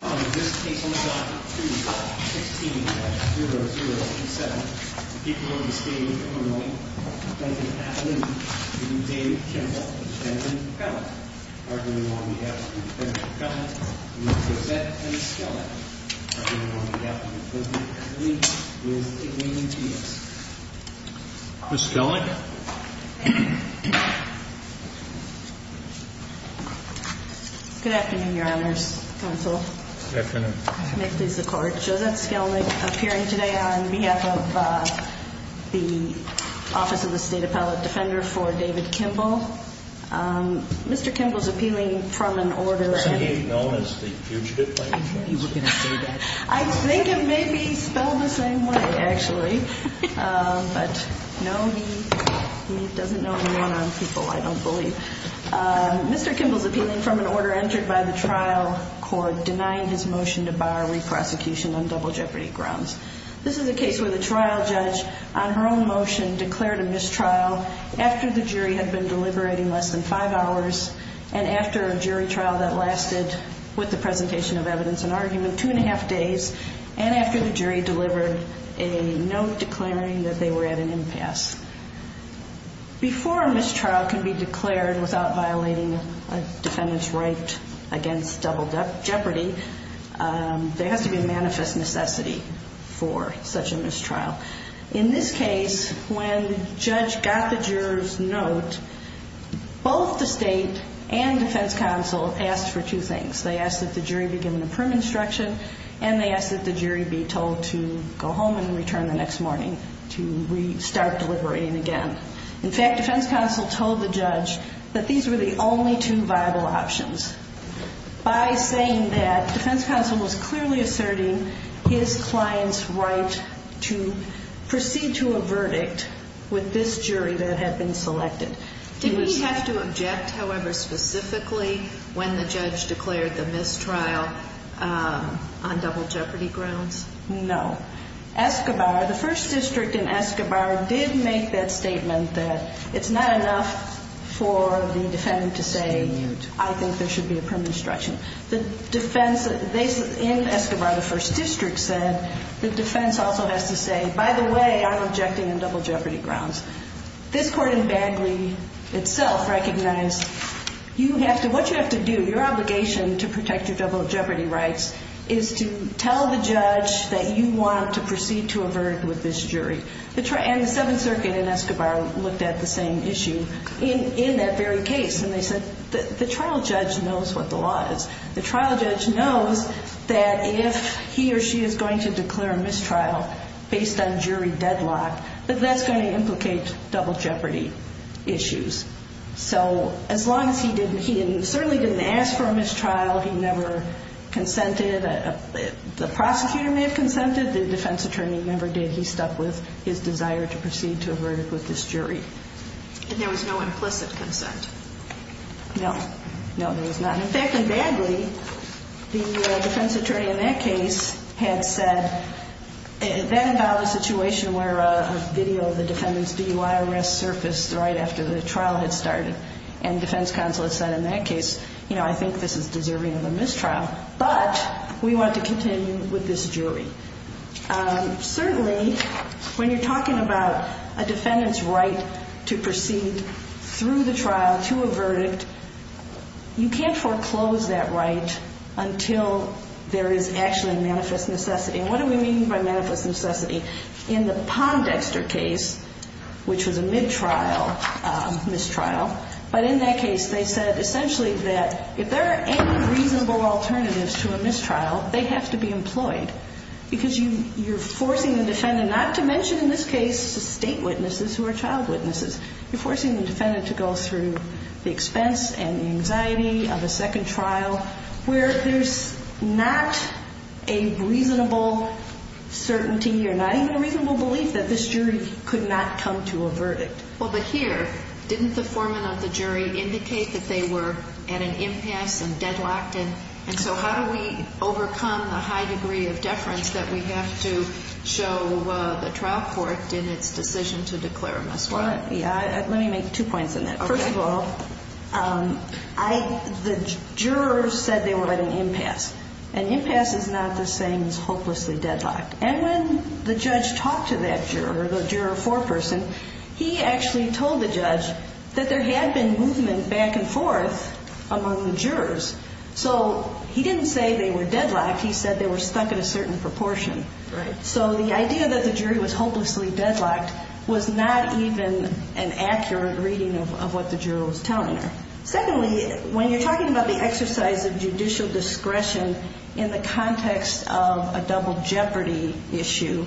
This case on the docket, please, 16-0027, the people of the state of Illinois, President Atlin and David Kimble, Mr. Fenton, are going on behalf of the Defense Department, Ms. Rosette and Ms. Skellig, are going on behalf of the President's Committee, Ms. Eileen Diaz. Ms. Skellig. Good afternoon, Your Honors, Counsel. Good afternoon. May it please the Court, Josette Skellig appearing today on behalf of the Office of the State Appellate Defender for David Kimble. Mr. Kimble is appealing from an order and... Somebody known as the fugitive plaintiff. I knew you were going to say that. I think it may be spelled the same way, actually. But no, he doesn't know anyone on people, I don't believe. Mr. Kimble is appealing from an order entered by the trial court denying his motion to bar re-prosecution on double jeopardy grounds. This is a case where the trial judge, on her own motion, declared a mistrial after the jury had been deliberating less than five hours, and after a jury trial that lasted, with the presentation of evidence and argument, two and a half days, and after the jury delivered a note declaring that they were at an impasse. Before a mistrial can be declared without violating a defendant's right against double jeopardy, there has to be a manifest necessity for such a mistrial. In this case, when the judge got the juror's note, both the state and defense counsel asked for two things. They asked that the jury be given a prim instruction, and they asked that the jury be told to go home and return the next morning to restart deliberating again. In fact, defense counsel told the judge that these were the only two viable options. By saying that, defense counsel was clearly asserting his client's right to proceed to a verdict with this jury that had been selected. Did we have to object, however, specifically when the judge declared the mistrial on double jeopardy grounds? No. Escobar, the first district in Escobar, did make that statement that it's not enough for the defendant to say, I think there should be a prim instruction. The defense in Escobar, the first district, said the defense also has to say, by the way, I'm objecting on double jeopardy grounds. This court in Bagley itself recognized what you have to do, your obligation to protect your double jeopardy rights, is to tell the judge that you want to proceed to a verdict with this jury. And the Seventh Circuit in Escobar looked at the same issue in that very case, and they said, the trial judge knows what the law is. The trial judge knows that if he or she is going to declare a mistrial based on jury deadlock, that that's going to implicate double jeopardy issues. So as long as he didn't, he certainly didn't ask for a mistrial, he never consented, the prosecutor may have consented, the defense attorney never did. He stuck with his desire to proceed to a verdict with this jury. And there was no implicit consent? No. No, there was not. In fact, in Bagley, the defense attorney in that case had said, that involved a situation where a video of the defendant's DUI arrest surfaced right after the trial had started. And defense counsel had said in that case, you know, I think this is deserving of a mistrial, but we want to continue with this jury. Certainly, when you're talking about a defendant's right to proceed through the trial to a verdict, you can't foreclose that right until there is actually manifest necessity. And what do we mean by manifest necessity? In the Pondexter case, which was a mid-trial mistrial, but in that case they said essentially that if there are any reasonable alternatives to a mistrial, they have to be employed. Because you're forcing the defendant not to mention in this case the state witnesses who are child witnesses. You're forcing the defendant to go through the expense and the anxiety of a second trial where there's not a reasonable certainty or not even a reasonable belief that this jury could not come to a verdict. Well, but here, didn't the foreman of the jury indicate that they were at an impasse and deadlocked? And so how do we overcome the high degree of deference that we have to show the trial court in its decision to declare a mistrial? Let me make two points on that. First of all, the jurors said they were at an impasse. An impasse is not the same as hopelessly deadlocked. And when the judge talked to that juror, the juror foreperson, he actually told the judge that there had been movement back and forth among the jurors. So he didn't say they were deadlocked. He said they were stuck at a certain proportion. So the idea that the jury was hopelessly deadlocked was not even an accurate reading of what the juror was telling her. Secondly, when you're talking about the exercise of judicial discretion in the context of a double jeopardy issue,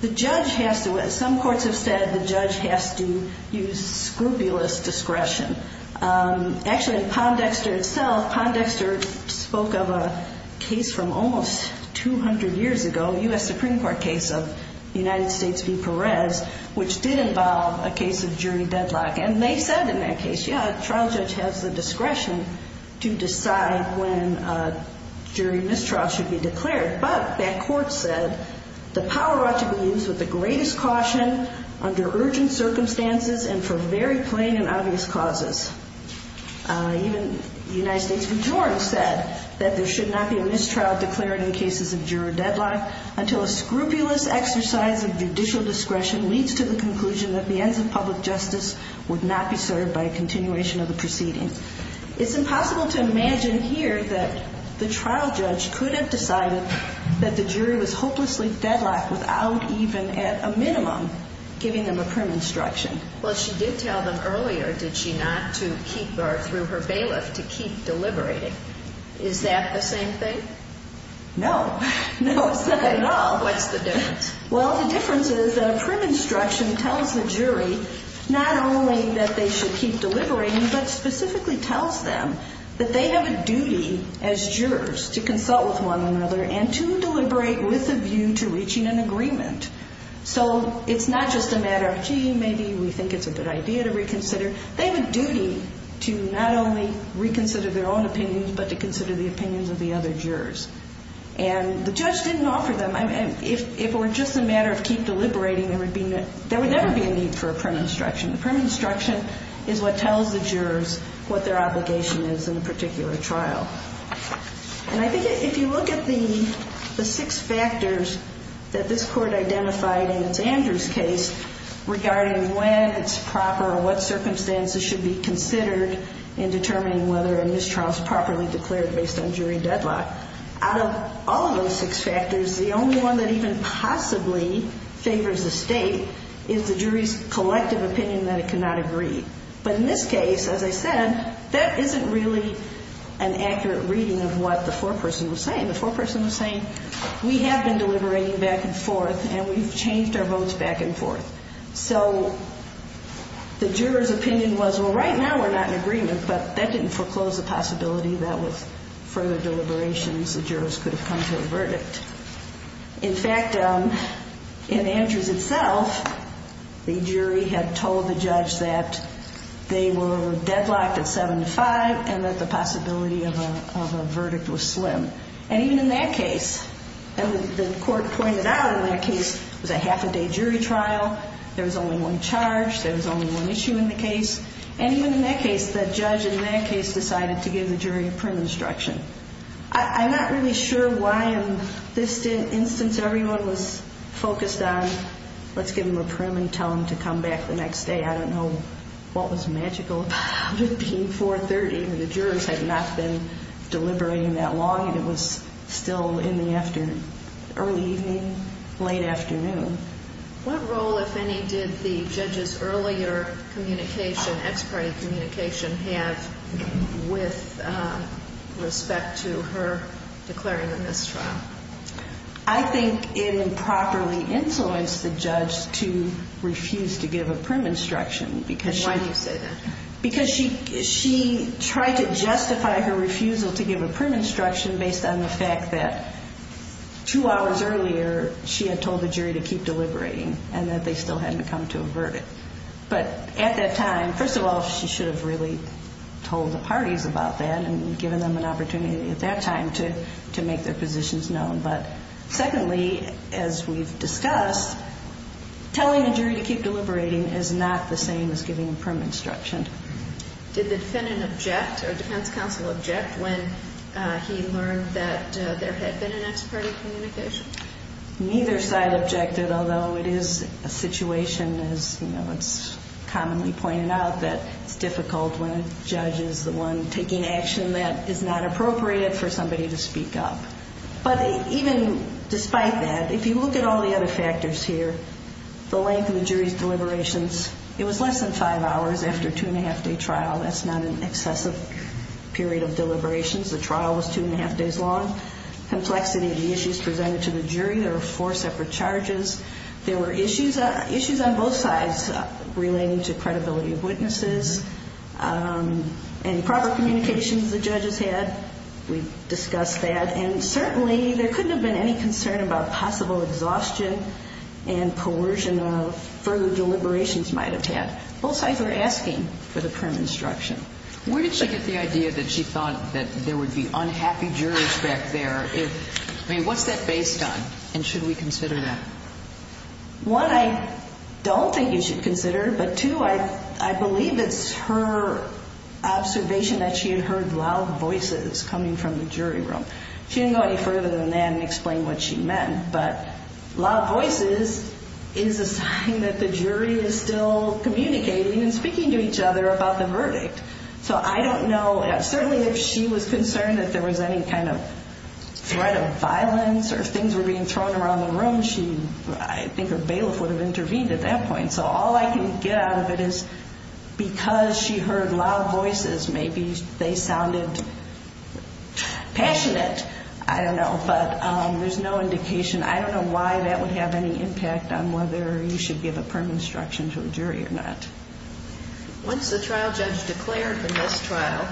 the judge has to, as some courts have said, the judge has to use scrupulous discretion. Actually, in Pondexter itself, Pondexter spoke of a case from almost 200 years ago, a U.S. Supreme Court case of the United States v. Perez, which did involve a case of jury deadlock. And they said in that case, yeah, a trial judge has the discretion to decide when a jury mistrial should be declared. But that court said the power ought to be used with the greatest caution under urgent circumstances and for very plain and obvious causes. Even the United States majority said that there should not be a mistrial declared in cases of jury deadlock until a scrupulous exercise of judicial discretion leads to the conclusion that the ends of public justice would not be served by a continuation of the proceeding. It's impossible to imagine here that the trial judge could have decided that the jury was hopelessly deadlocked without even at a minimum giving them a prim instruction. Well, she did tell them earlier did she not to keep or through her bailiff to keep deliberating. Is that the same thing? No. No, it's not at all. What's the difference? Well, the difference is that a prim instruction tells the jury not only that they should keep deliberating, but specifically tells them that they have a duty as jurors to consult with one another and to deliberate with a view to reaching an agreement. So it's not just a matter of, gee, maybe we think it's a good idea to reconsider. They have a duty to not only reconsider their own opinions, but to consider the opinions of the other jurors. And the judge didn't offer them. If it were just a matter of keep deliberating, there would never be a need for a prim instruction. A prim instruction is what tells the jurors what their obligation is in a particular trial. And I think if you look at the six factors that this court identified in its Andrews case regarding when it's proper, what circumstances should be considered in determining whether a mistrial is properly declared based on jury deadlock, out of all of those six factors, the only one that even possibly favors the state is the jury's collective opinion that it cannot agree. But in this case, as I said, that isn't really an accurate reading of what the foreperson was saying. The foreperson was saying, we have been deliberating back and forth, and we've changed our votes back and forth. So the juror's opinion was, well, right now we're not in agreement, but that didn't foreclose the possibility that with further deliberations the jurors could have come to a verdict. In fact, in Andrews itself, the jury had told the judge that they were deadlocked at 7-5 and that the possibility of a verdict was slim. And even in that case, the court pointed out in that case it was a half-a-day jury trial. There was only one charge. There was only one issue in the case. And even in that case, the judge in that case decided to give the jury a prim instruction. I'm not really sure why in this instance everyone was focused on, let's give them a prim and tell them to come back the next day. I don't know what was magical about it being 4-30. The jurors had not been deliberating that long, and it was still in the early evening, late afternoon. What role, if any, did the judge's earlier communication, ex parte communication, have with respect to her declaring the mistrial? I think it improperly influenced the judge to refuse to give a prim instruction. Why do you say that? Because she tried to justify her refusal to give a prim instruction based on the fact that two hours earlier she had told the jury to keep deliberating and that they still hadn't come to a verdict. But at that time, first of all, she should have really told the parties about that and given them an opportunity at that time to make their positions known. But secondly, as we've discussed, telling a jury to keep deliberating is not the same as giving a prim instruction. Did the defendant object or defense counsel object when he learned that there had been an ex parte communication? Neither side objected, although it is a situation, as it's commonly pointed out, that it's difficult when a judge is the one taking action that is not appropriate for somebody to speak up. But even despite that, if you look at all the other factors here, the length of the jury's deliberations, it was less than five hours after a two-and-a-half-day trial. That's not an excessive period of deliberations. The trial was two-and-a-half days long. Complexity of the issues presented to the jury, there were four separate charges. There were issues on both sides relating to credibility of witnesses and proper communications the judges had. We discussed that. And certainly there couldn't have been any concern about possible exhaustion and coercion of further deliberations might have had. Both sides were asking for the prim instruction. Where did she get the idea that she thought that there would be unhappy jurors back there? I mean, what's that based on, and should we consider that? One, I don't think you should consider. But two, I believe it's her observation that she had heard loud voices coming from the jury room. She didn't go any further than that and explain what she meant. But loud voices is a sign that the jury is still communicating and speaking to each other about the verdict. So I don't know. Certainly if she was concerned that there was any kind of threat of violence or if things were being thrown around the room, I think her bailiff would have intervened at that point. So all I can get out of it is because she heard loud voices, maybe they sounded passionate. I don't know. But there's no indication. I don't know why that would have any impact on whether you should give a prim instruction to a jury or not. Once the trial judge declared the mistrial,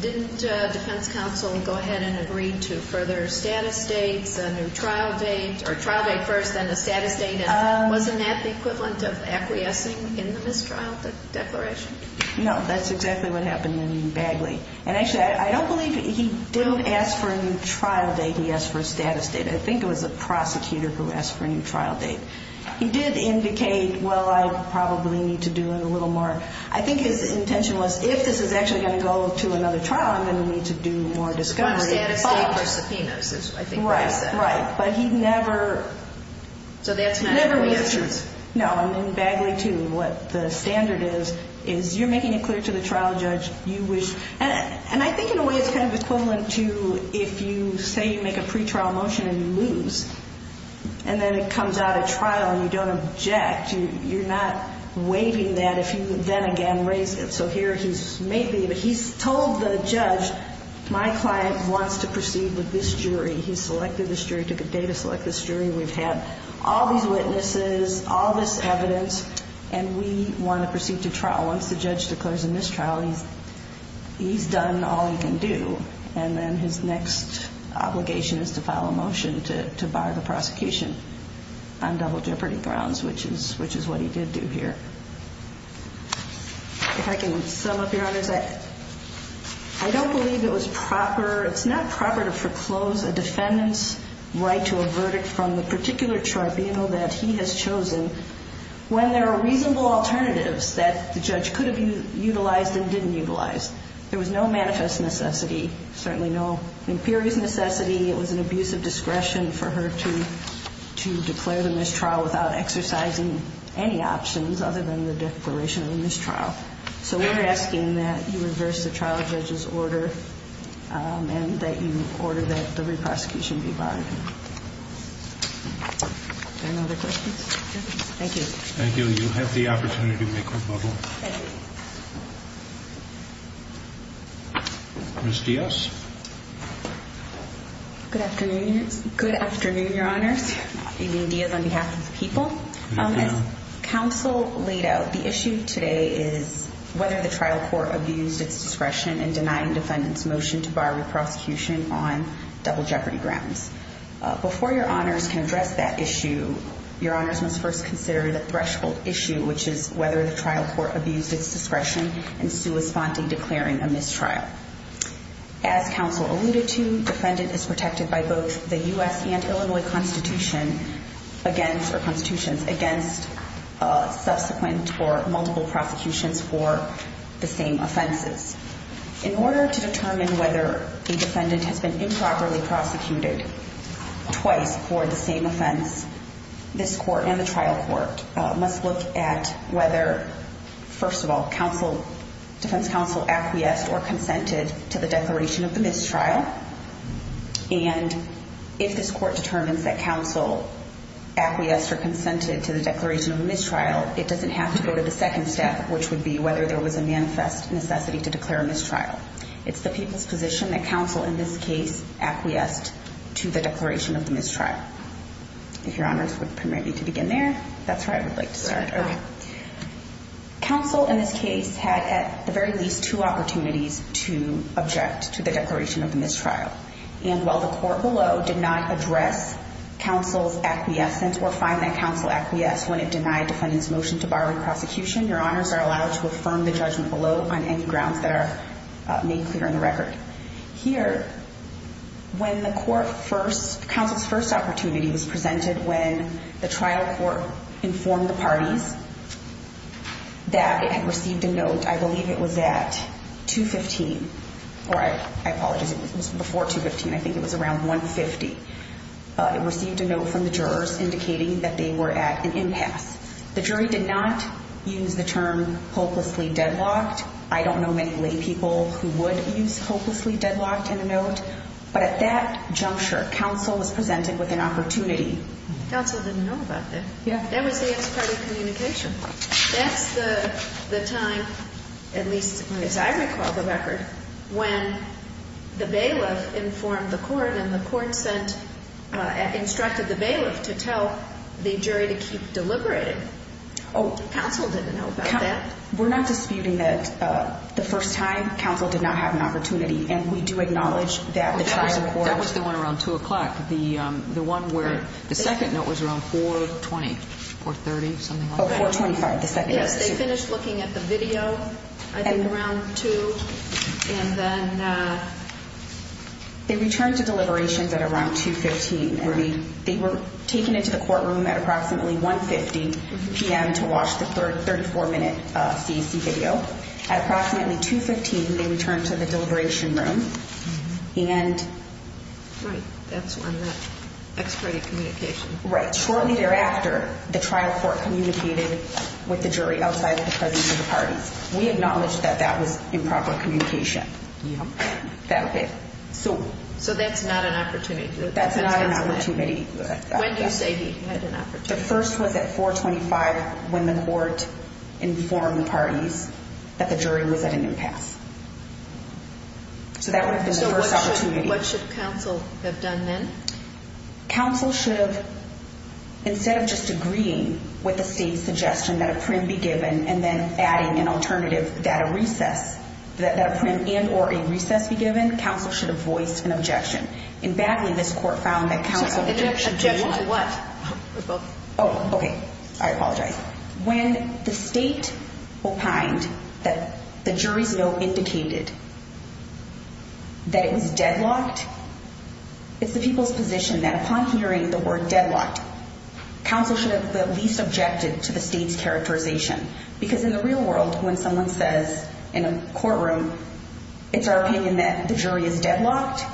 didn't defense counsel go ahead and agree to further status dates, a new trial date, or trial date first, then the status date? And wasn't that the equivalent of acquiescing in the mistrial declaration? No, that's exactly what happened in Bagley. And actually, I don't believe he did ask for a new trial date. He asked for a status date. I think it was a prosecutor who asked for a new trial date. He did indicate, well, I probably need to do it a little more. I think his intention was if this is actually going to go to another trial, I'm going to need to do more discovery. A status date for subpoenas is what I think he said. Right, right. But he never answered. No, in Bagley, too, what the standard is, is you're making it clear to the trial judge you wish. And I think in a way it's kind of equivalent to if you say you make a pretrial motion and you lose, and then it comes out at trial and you don't object. You're not waiving that if you then again raise it. So here he's told the judge, my client wants to proceed with this jury. He's selected this jury, took a day to select this jury. We've had all these witnesses, all this evidence, and we want to proceed to trial. Once the judge declares a mistrial, he's done all he can do. And then his next obligation is to file a motion to bar the prosecution on double jeopardy grounds, which is what he did do here. If I can sum up, Your Honors, I don't believe it was proper. It's not proper to foreclose a defendant's right to a verdict from the particular tribunal that he has chosen when there are reasonable alternatives that the judge could have utilized and didn't utilize. There was no manifest necessity, certainly no imperious necessity. It was an abuse of discretion for her to declare the mistrial without exercising any options other than the declaration of a mistrial. So we're asking that you reverse the trial judge's order and that you order that the re-prosecution be barred. Are there any other questions? Thank you. Thank you. Thank you. Ms. Diaz? Good afternoon, Your Honors. Eileen Diaz on behalf of the people. As counsel laid out, the issue today is whether the trial court abused its discretion in denying defendants' motion to bar re-prosecution on double jeopardy grounds. Before Your Honors can address that issue, Your Honors must first consider the threshold issue, which is whether the trial court abused its discretion in sua sponte declaring a mistrial. As counsel alluded to, defendant is protected by both the U.S. and Illinois Constitution against or constitutions against subsequent or multiple prosecutions for the same offenses. In order to determine whether a defendant has been improperly prosecuted twice for the same offense, this court and the trial court must look at whether, first of all, defense counsel acquiesced or consented to the declaration of the mistrial. And if this court determines that counsel acquiesced or consented to the declaration of a mistrial, it doesn't have to go to the second step, which would be whether there was a manifest necessity to declare a mistrial. It's the people's position that counsel in this case acquiesced to the declaration of the mistrial. If Your Honors would permit me to begin there. That's where I would like to start. Counsel in this case had at the very least two opportunities to object to the declaration of the mistrial. And while the court below did not address counsel's acquiescence or find that counsel acquiesced when it denied defendant's motion to bar re-prosecution, Your Honors are allowed to affirm the judgment below on any grounds that are made clear in the record. Here, when the court first, counsel's first opportunity was presented when the trial court informed the parties that it had received a note, I believe it was at 215, or I apologize, it was before 215. I think it was around 150. It received a note from the jurors indicating that they were at an impasse. The jury did not use the term hopelessly deadlocked. I don't know many lay people who would use hopelessly deadlocked in a note. But at that juncture, counsel was presented with an opportunity. Counsel didn't know about that. That was the ex parte communication. That's the time, at least as I recall the record, when the bailiff informed the court and the court sent, instructed the bailiff to tell the jury to keep deliberating. Counsel didn't know about that. We're not disputing that the first time, counsel did not have an opportunity. And we do acknowledge that the trial court That was the one around 2 o'clock. The one where the second note was around 420, 430, something like that. Oh, 425, the second note. Yes, they finished looking at the video, I think around 2, and then They returned to deliberations at around 215. They were taken into the courtroom at approximately 150 p.m. to watch the 34-minute CAC video. At approximately 215, they returned to the deliberation room. Right, that's when that ex parte communication. Right, shortly thereafter, the trial court communicated with the jury outside of the presence of the parties. We acknowledge that that was improper communication. So that's not an opportunity. That's not an opportunity. When do you say he had an opportunity? The first was at 425 when the court informed the parties that the jury was at a new pass. So that would have been the first opportunity. So what should counsel have done then? Counsel should have, instead of just agreeing with the state's suggestion that a prim be given and then adding an alternative that a recess, that a prim and or a recess be given, counsel should have voiced an objection. And badly, this court found that counsel should do what? Objection to what? Oh, okay. I apologize. When the state opined that the jury's note indicated that it was deadlocked, it's the people's position that upon hearing the word deadlocked, counsel should have at least objected to the state's characterization. Because in the real world, when someone says in a courtroom, it's our opinion that the jury is deadlocked,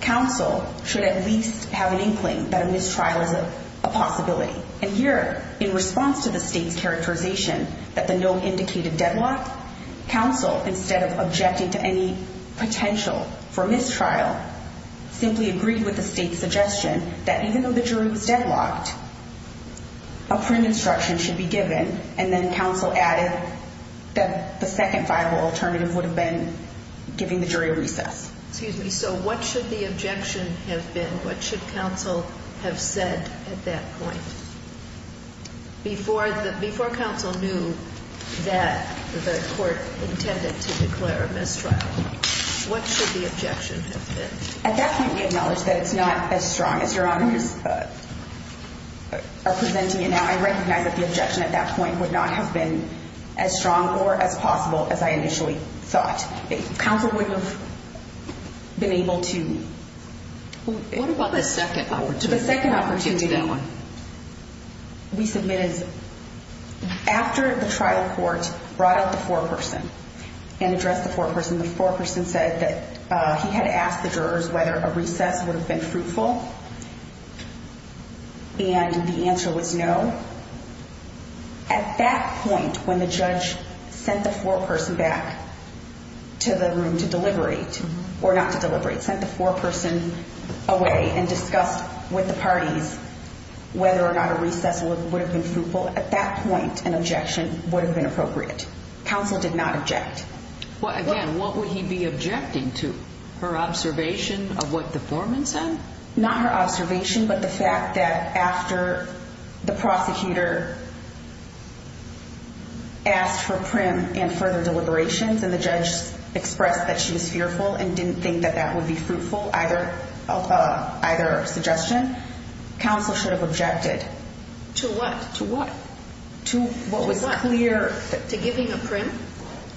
counsel should at least have an inkling that a mistrial is a possibility. And here, in response to the state's characterization that the note indicated deadlocked, counsel, instead of objecting to any potential for mistrial, simply agreed with the state's suggestion that even though the jury was deadlocked, a prim instruction should be given, and then counsel added that the second viable alternative would have been giving the jury a recess. Excuse me. So what should the objection have been? What should counsel have said at that point? Before counsel knew that the court intended to declare a mistrial, what should the objection have been? At that point, we acknowledge that it's not as strong as Your Honors are presenting it now. I recognize that the objection at that point would not have been as strong or as possible as I initially thought. Counsel wouldn't have been able to. What about the second opportunity? The second opportunity that we submitted is after the trial court brought out the foreperson and addressed the foreperson, the foreperson said that he had asked the jurors whether a recess would have been fruitful, and the answer was no. At that point, when the judge sent the foreperson back to the room to deliberate, or not to deliberate, sent the foreperson away and discussed with the parties whether or not a recess would have been fruitful, at that point an objection would have been appropriate. Counsel did not object. Again, what would he be objecting to? Her observation of what the foreman said? Not her observation, but the fact that after the prosecutor asked for prim and further deliberations and the judge expressed that she was fearful and didn't think that that would be fruitful, either suggestion, counsel should have objected. To what? To what was clear. To giving a prim?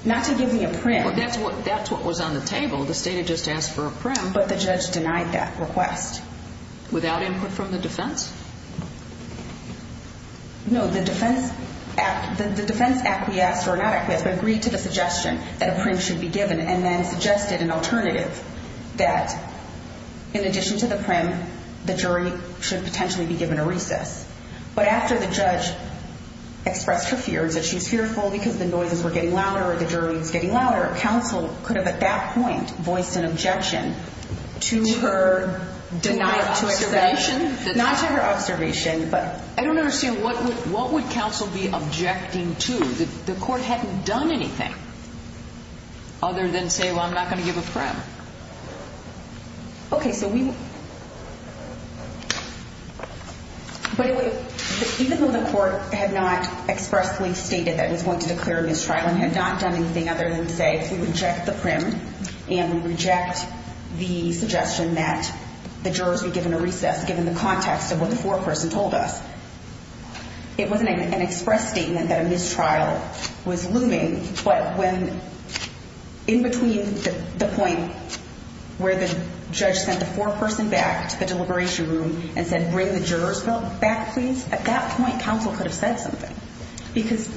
Not to giving a prim. Well, that's what was on the table. The state had just asked for a prim. But the judge denied that request. Without input from the defense? No, the defense acquiesced, or not acquiesced, but agreed to the suggestion that a prim should be given and then suggested an alternative that in addition to the prim, the jury should potentially be given a recess. But after the judge expressed her fears, that she was fearful because the noises were getting louder or the jury was getting louder, counsel could have at that point voiced an objection to her denial. To her observation? Not to her observation, but... I don't understand. What would counsel be objecting to? The court hadn't done anything other than say, well, I'm not going to give a prim. Okay, so we... But even though the court had not expressly stated that it was going to declare a mistrial and had not done anything other than say, we reject the prim and we reject the suggestion that the jurors be given a recess given the context of what the foreperson told us, it wasn't an express statement that a mistrial was looming, but when in between the point where the judge sent the foreperson back to the deliberation room and said, bring the jurors back, please, at that point, counsel could have said something. Because...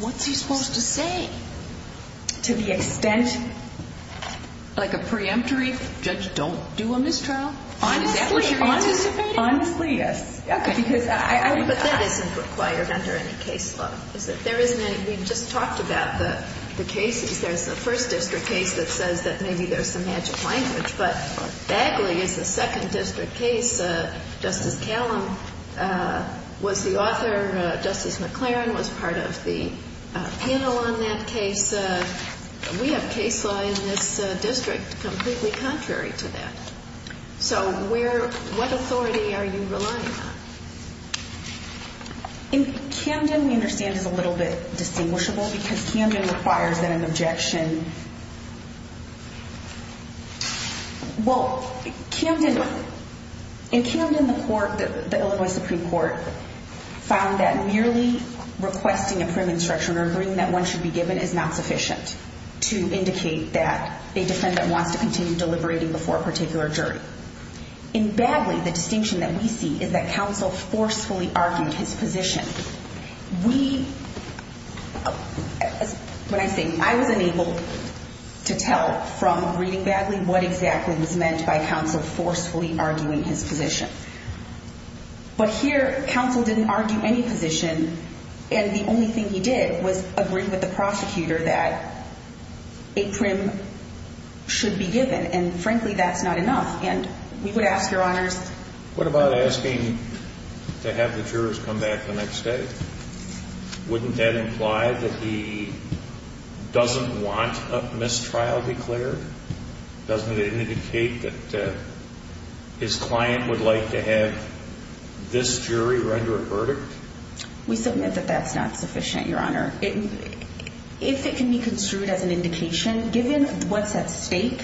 What's he supposed to say? To the extent... Like a preemptory, judge, don't do a mistrial? Honestly. Is that what you're anticipating? Honestly, yes. Okay. But that isn't required under any case law, is it? There isn't any. We've just talked about the cases. There's the first district case that says that maybe there's some magic language, but Bagley is the second district case. Justice Callum was the author. Justice McLaren was part of the panel on that case. We have case law in this district completely contrary to that. So what authority are you relying on? In Camden, we understand it's a little bit distinguishable because Camden requires that an objection... Well, in Camden, the court, the Illinois Supreme Court, found that merely requesting a prune instruction or agreeing that one should be given is not sufficient to indicate that a defendant wants to continue deliberating before a particular jury. In Bagley, the distinction that we see is that counsel forcefully argued his position. When I say, I was unable to tell from reading Bagley what exactly was meant by counsel forcefully arguing his position. But here, counsel didn't argue any position, and the only thing he did was agree with the prosecutor that a prune should be given. And frankly, that's not enough. And we would ask, Your Honors... What about asking to have the jurors come back the next day? Wouldn't that imply that he doesn't want a mistrial declared? Doesn't it indicate that his client would like to have this jury render a verdict? We submit that that's not sufficient, Your Honor. If it can be construed as an indication, given what's at stake,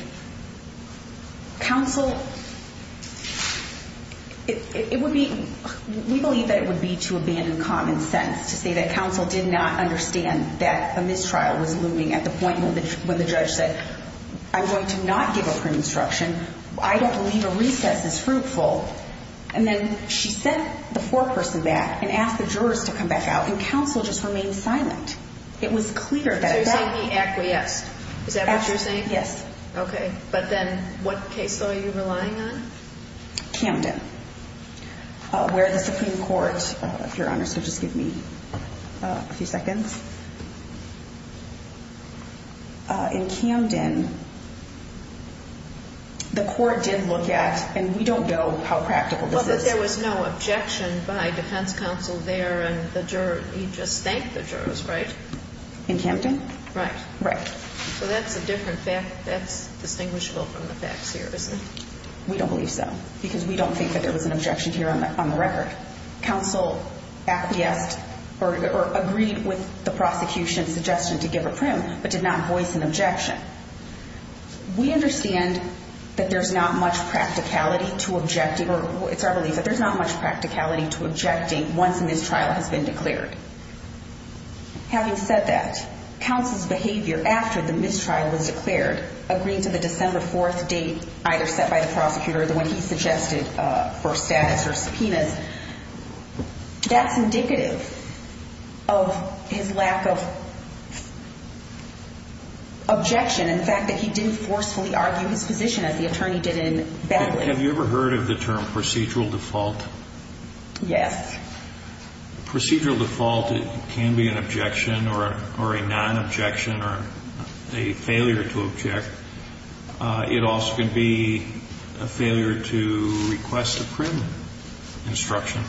counsel... It would be... We believe that it would be to abandon common sense to say that counsel did not understand that a mistrial was looming at the point when the judge said, I'm going to not give a prune instruction. I don't believe a recess is fruitful. And then she sent the foreperson back and asked the jurors to come back out, and counsel just remained silent. It was clear that... So you're saying he acquiesced? Is that what you're saying? Yes. Okay. But then what case law are you relying on? Camden, where the Supreme Court... Your Honor, so just give me a few seconds. In Camden, the court did look at, and we don't know how practical this is... Well, but there was no objection by defense counsel there, and the juror, he just thanked the jurors, right? In Camden? Right. Right. So that's a different fact. That's distinguishable from the facts here, isn't it? We don't believe so, because we don't think that there was an objection here on the record. We don't believe that counsel acquiesced or agreed with the prosecution's suggestion to give a prim, but did not voice an objection. We understand that there's not much practicality to objecting, or it's our belief that there's not much practicality to objecting once a mistrial has been declared. Having said that, counsel's behavior after the mistrial was declared, agreeing to the December 4th date either set by the prosecutor or the one he suggested for status or subpoenas, that's indicative of his lack of objection, in fact, that he didn't forcefully argue his position, as the attorney did in Batley. Have you ever heard of the term procedural default? Yes. Procedural default can be an objection or a non-objection or a failure to object. It also can be a failure to request a prim instruction.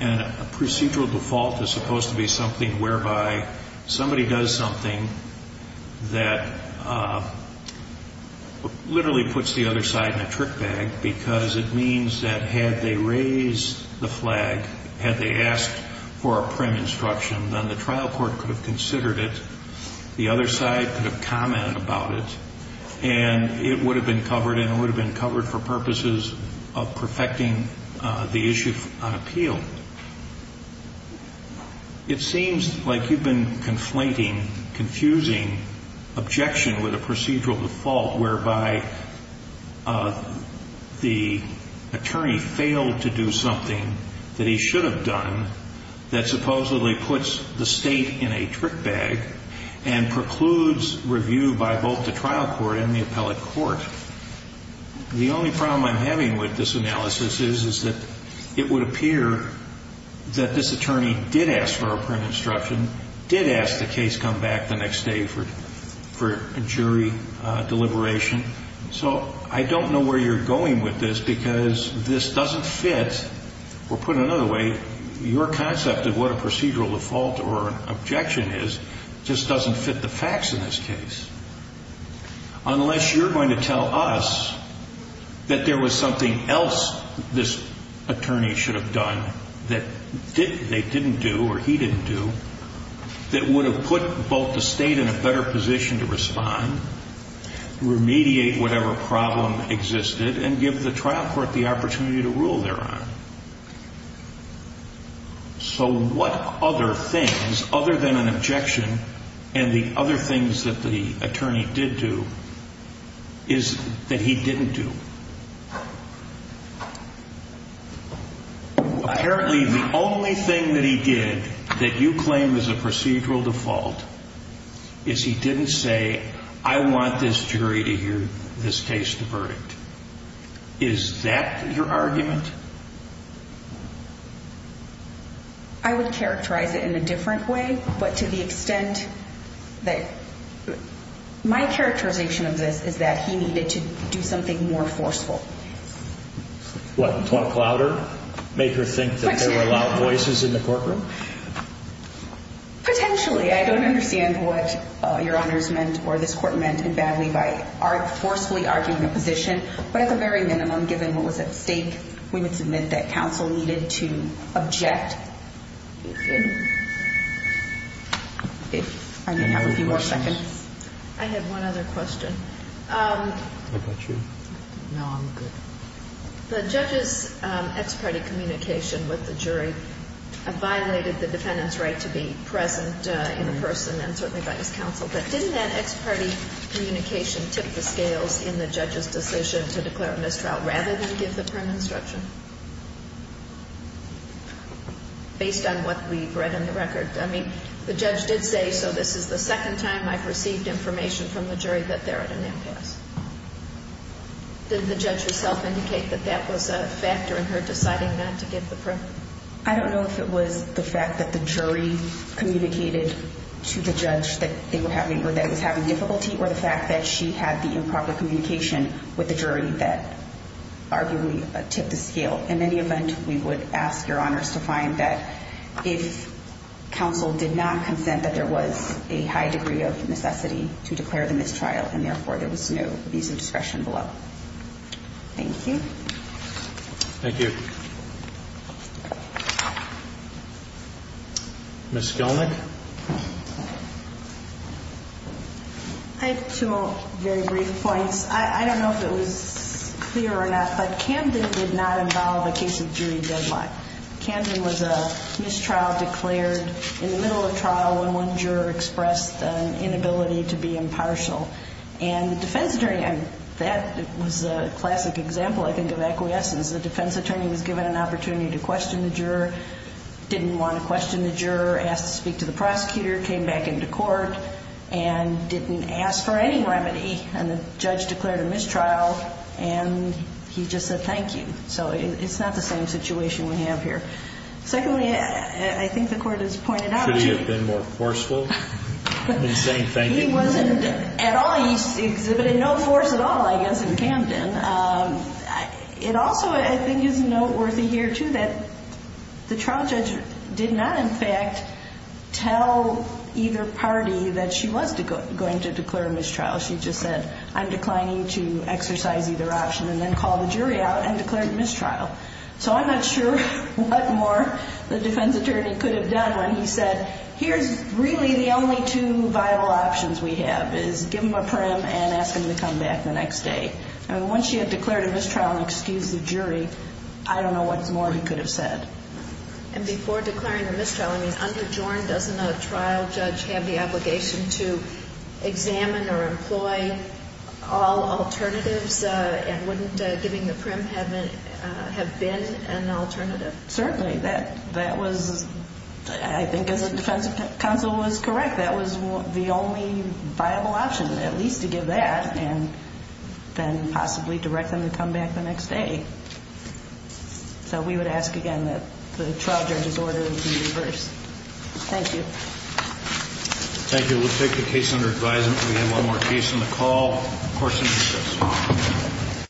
And a procedural default is supposed to be something whereby somebody does something that literally puts the other side in a trick bag, because it means that had they raised the flag, had they asked for a prim instruction, then the trial court could have considered it, the other side could have commented about it, and it would have been covered, and it would have been covered for purposes of perfecting the issue on appeal. It seems like you've been conflating, confusing objection with a procedural default, whereby the attorney failed to do something that he should have done that supposedly puts the state in a trick bag and precludes review by both the trial court and the appellate court. The only problem I'm having with this analysis is that it would appear that this attorney did ask for a prim instruction, did ask the case come back the next day for jury deliberation. So I don't know where you're going with this, because this doesn't fit, or put another way, your concept of what a procedural default or an objection is just doesn't fit the facts in this case. Unless you're going to tell us that there was something else this attorney should have done that they didn't do or he didn't do that would have put both the state in a better position to respond, remediate whatever problem existed, and give the trial court the opportunity to rule thereon. So what other things, other than an objection and the other things that the attorney did do, is that he didn't do? Apparently the only thing that he did that you claim is a procedural default is he didn't say, I want this jury to hear this case, the verdict. Is that your argument? I would characterize it in a different way, but to the extent that my characterization of this is that he needed to do something more forceful. What, talk louder? Make her think that there were loud voices in the courtroom? Potentially. I don't understand what your honors meant or this court meant in badly by forcefully arguing a position. But at the very minimum, given what was at stake, we would submit that counsel needed to object. I have a few more seconds. I have one other question. What about you? No, I'm good. The judge's ex-party communication with the jury violated the defendant's right to be present in person and certainly by his counsel. But didn't that ex-party communication tip the scales in the judge's decision to declare a mistrial rather than give the permanent instruction? Based on what we've read in the record. I mean, the judge did say, so this is the second time I've received information from the jury that they're at an impasse. Did the judge herself indicate that that was a factor in her deciding not to give the permit? I don't know if it was the fact that the jury communicated to the judge that they were having or that he was having difficulty or the fact that she had the improper communication with the jury that arguably tipped the scale. In any event, we would ask your honors to find that if counsel did not consent that there was a high degree of necessity to declare the mistrial and therefore there was no abuse of discretion below. Thank you. Thank you. Ms. Gelnick? I have two very brief points. One is I don't know if it was clear enough, but Camden did not involve a case of jury deadlock. Camden was a mistrial declared in the middle of trial when one juror expressed an inability to be impartial. And the defense attorney, that was a classic example, I think, of acquiescence. The defense attorney was given an opportunity to question the juror, didn't want to question the juror, asked to speak to the prosecutor, came back into court, and didn't ask for any remedy. And the judge declared a mistrial, and he just said thank you. So it's not the same situation we have here. Secondly, I think the court has pointed out to you. Could he have been more forceful in saying thank you? He wasn't at all. He exhibited no force at all, I guess, in Camden. It also, I think, is noteworthy here, too, that the trial judge did not, in fact, tell either party that she was going to declare a mistrial. She just said, I'm declining to exercise either option, and then called the jury out and declared a mistrial. So I'm not sure what more the defense attorney could have done when he said, here's really the only two viable options we have is give him a prim and ask him to come back the next day. Once she had declared a mistrial and excused the jury, I don't know what more he could have said. And before declaring a mistrial, I mean, under JORN, doesn't a trial judge have the obligation to examine or employ all alternatives and wouldn't giving the prim have been an alternative? Certainly. That was, I think, as the defense counsel was correct, that was the only viable option, at least to give that and then possibly direct them to come back the next day. So we would ask, again, that the trial judge's order be reversed. Thank you. Thank you. We'll take the case under advisement. We have one more case on the call. Court is adjourned.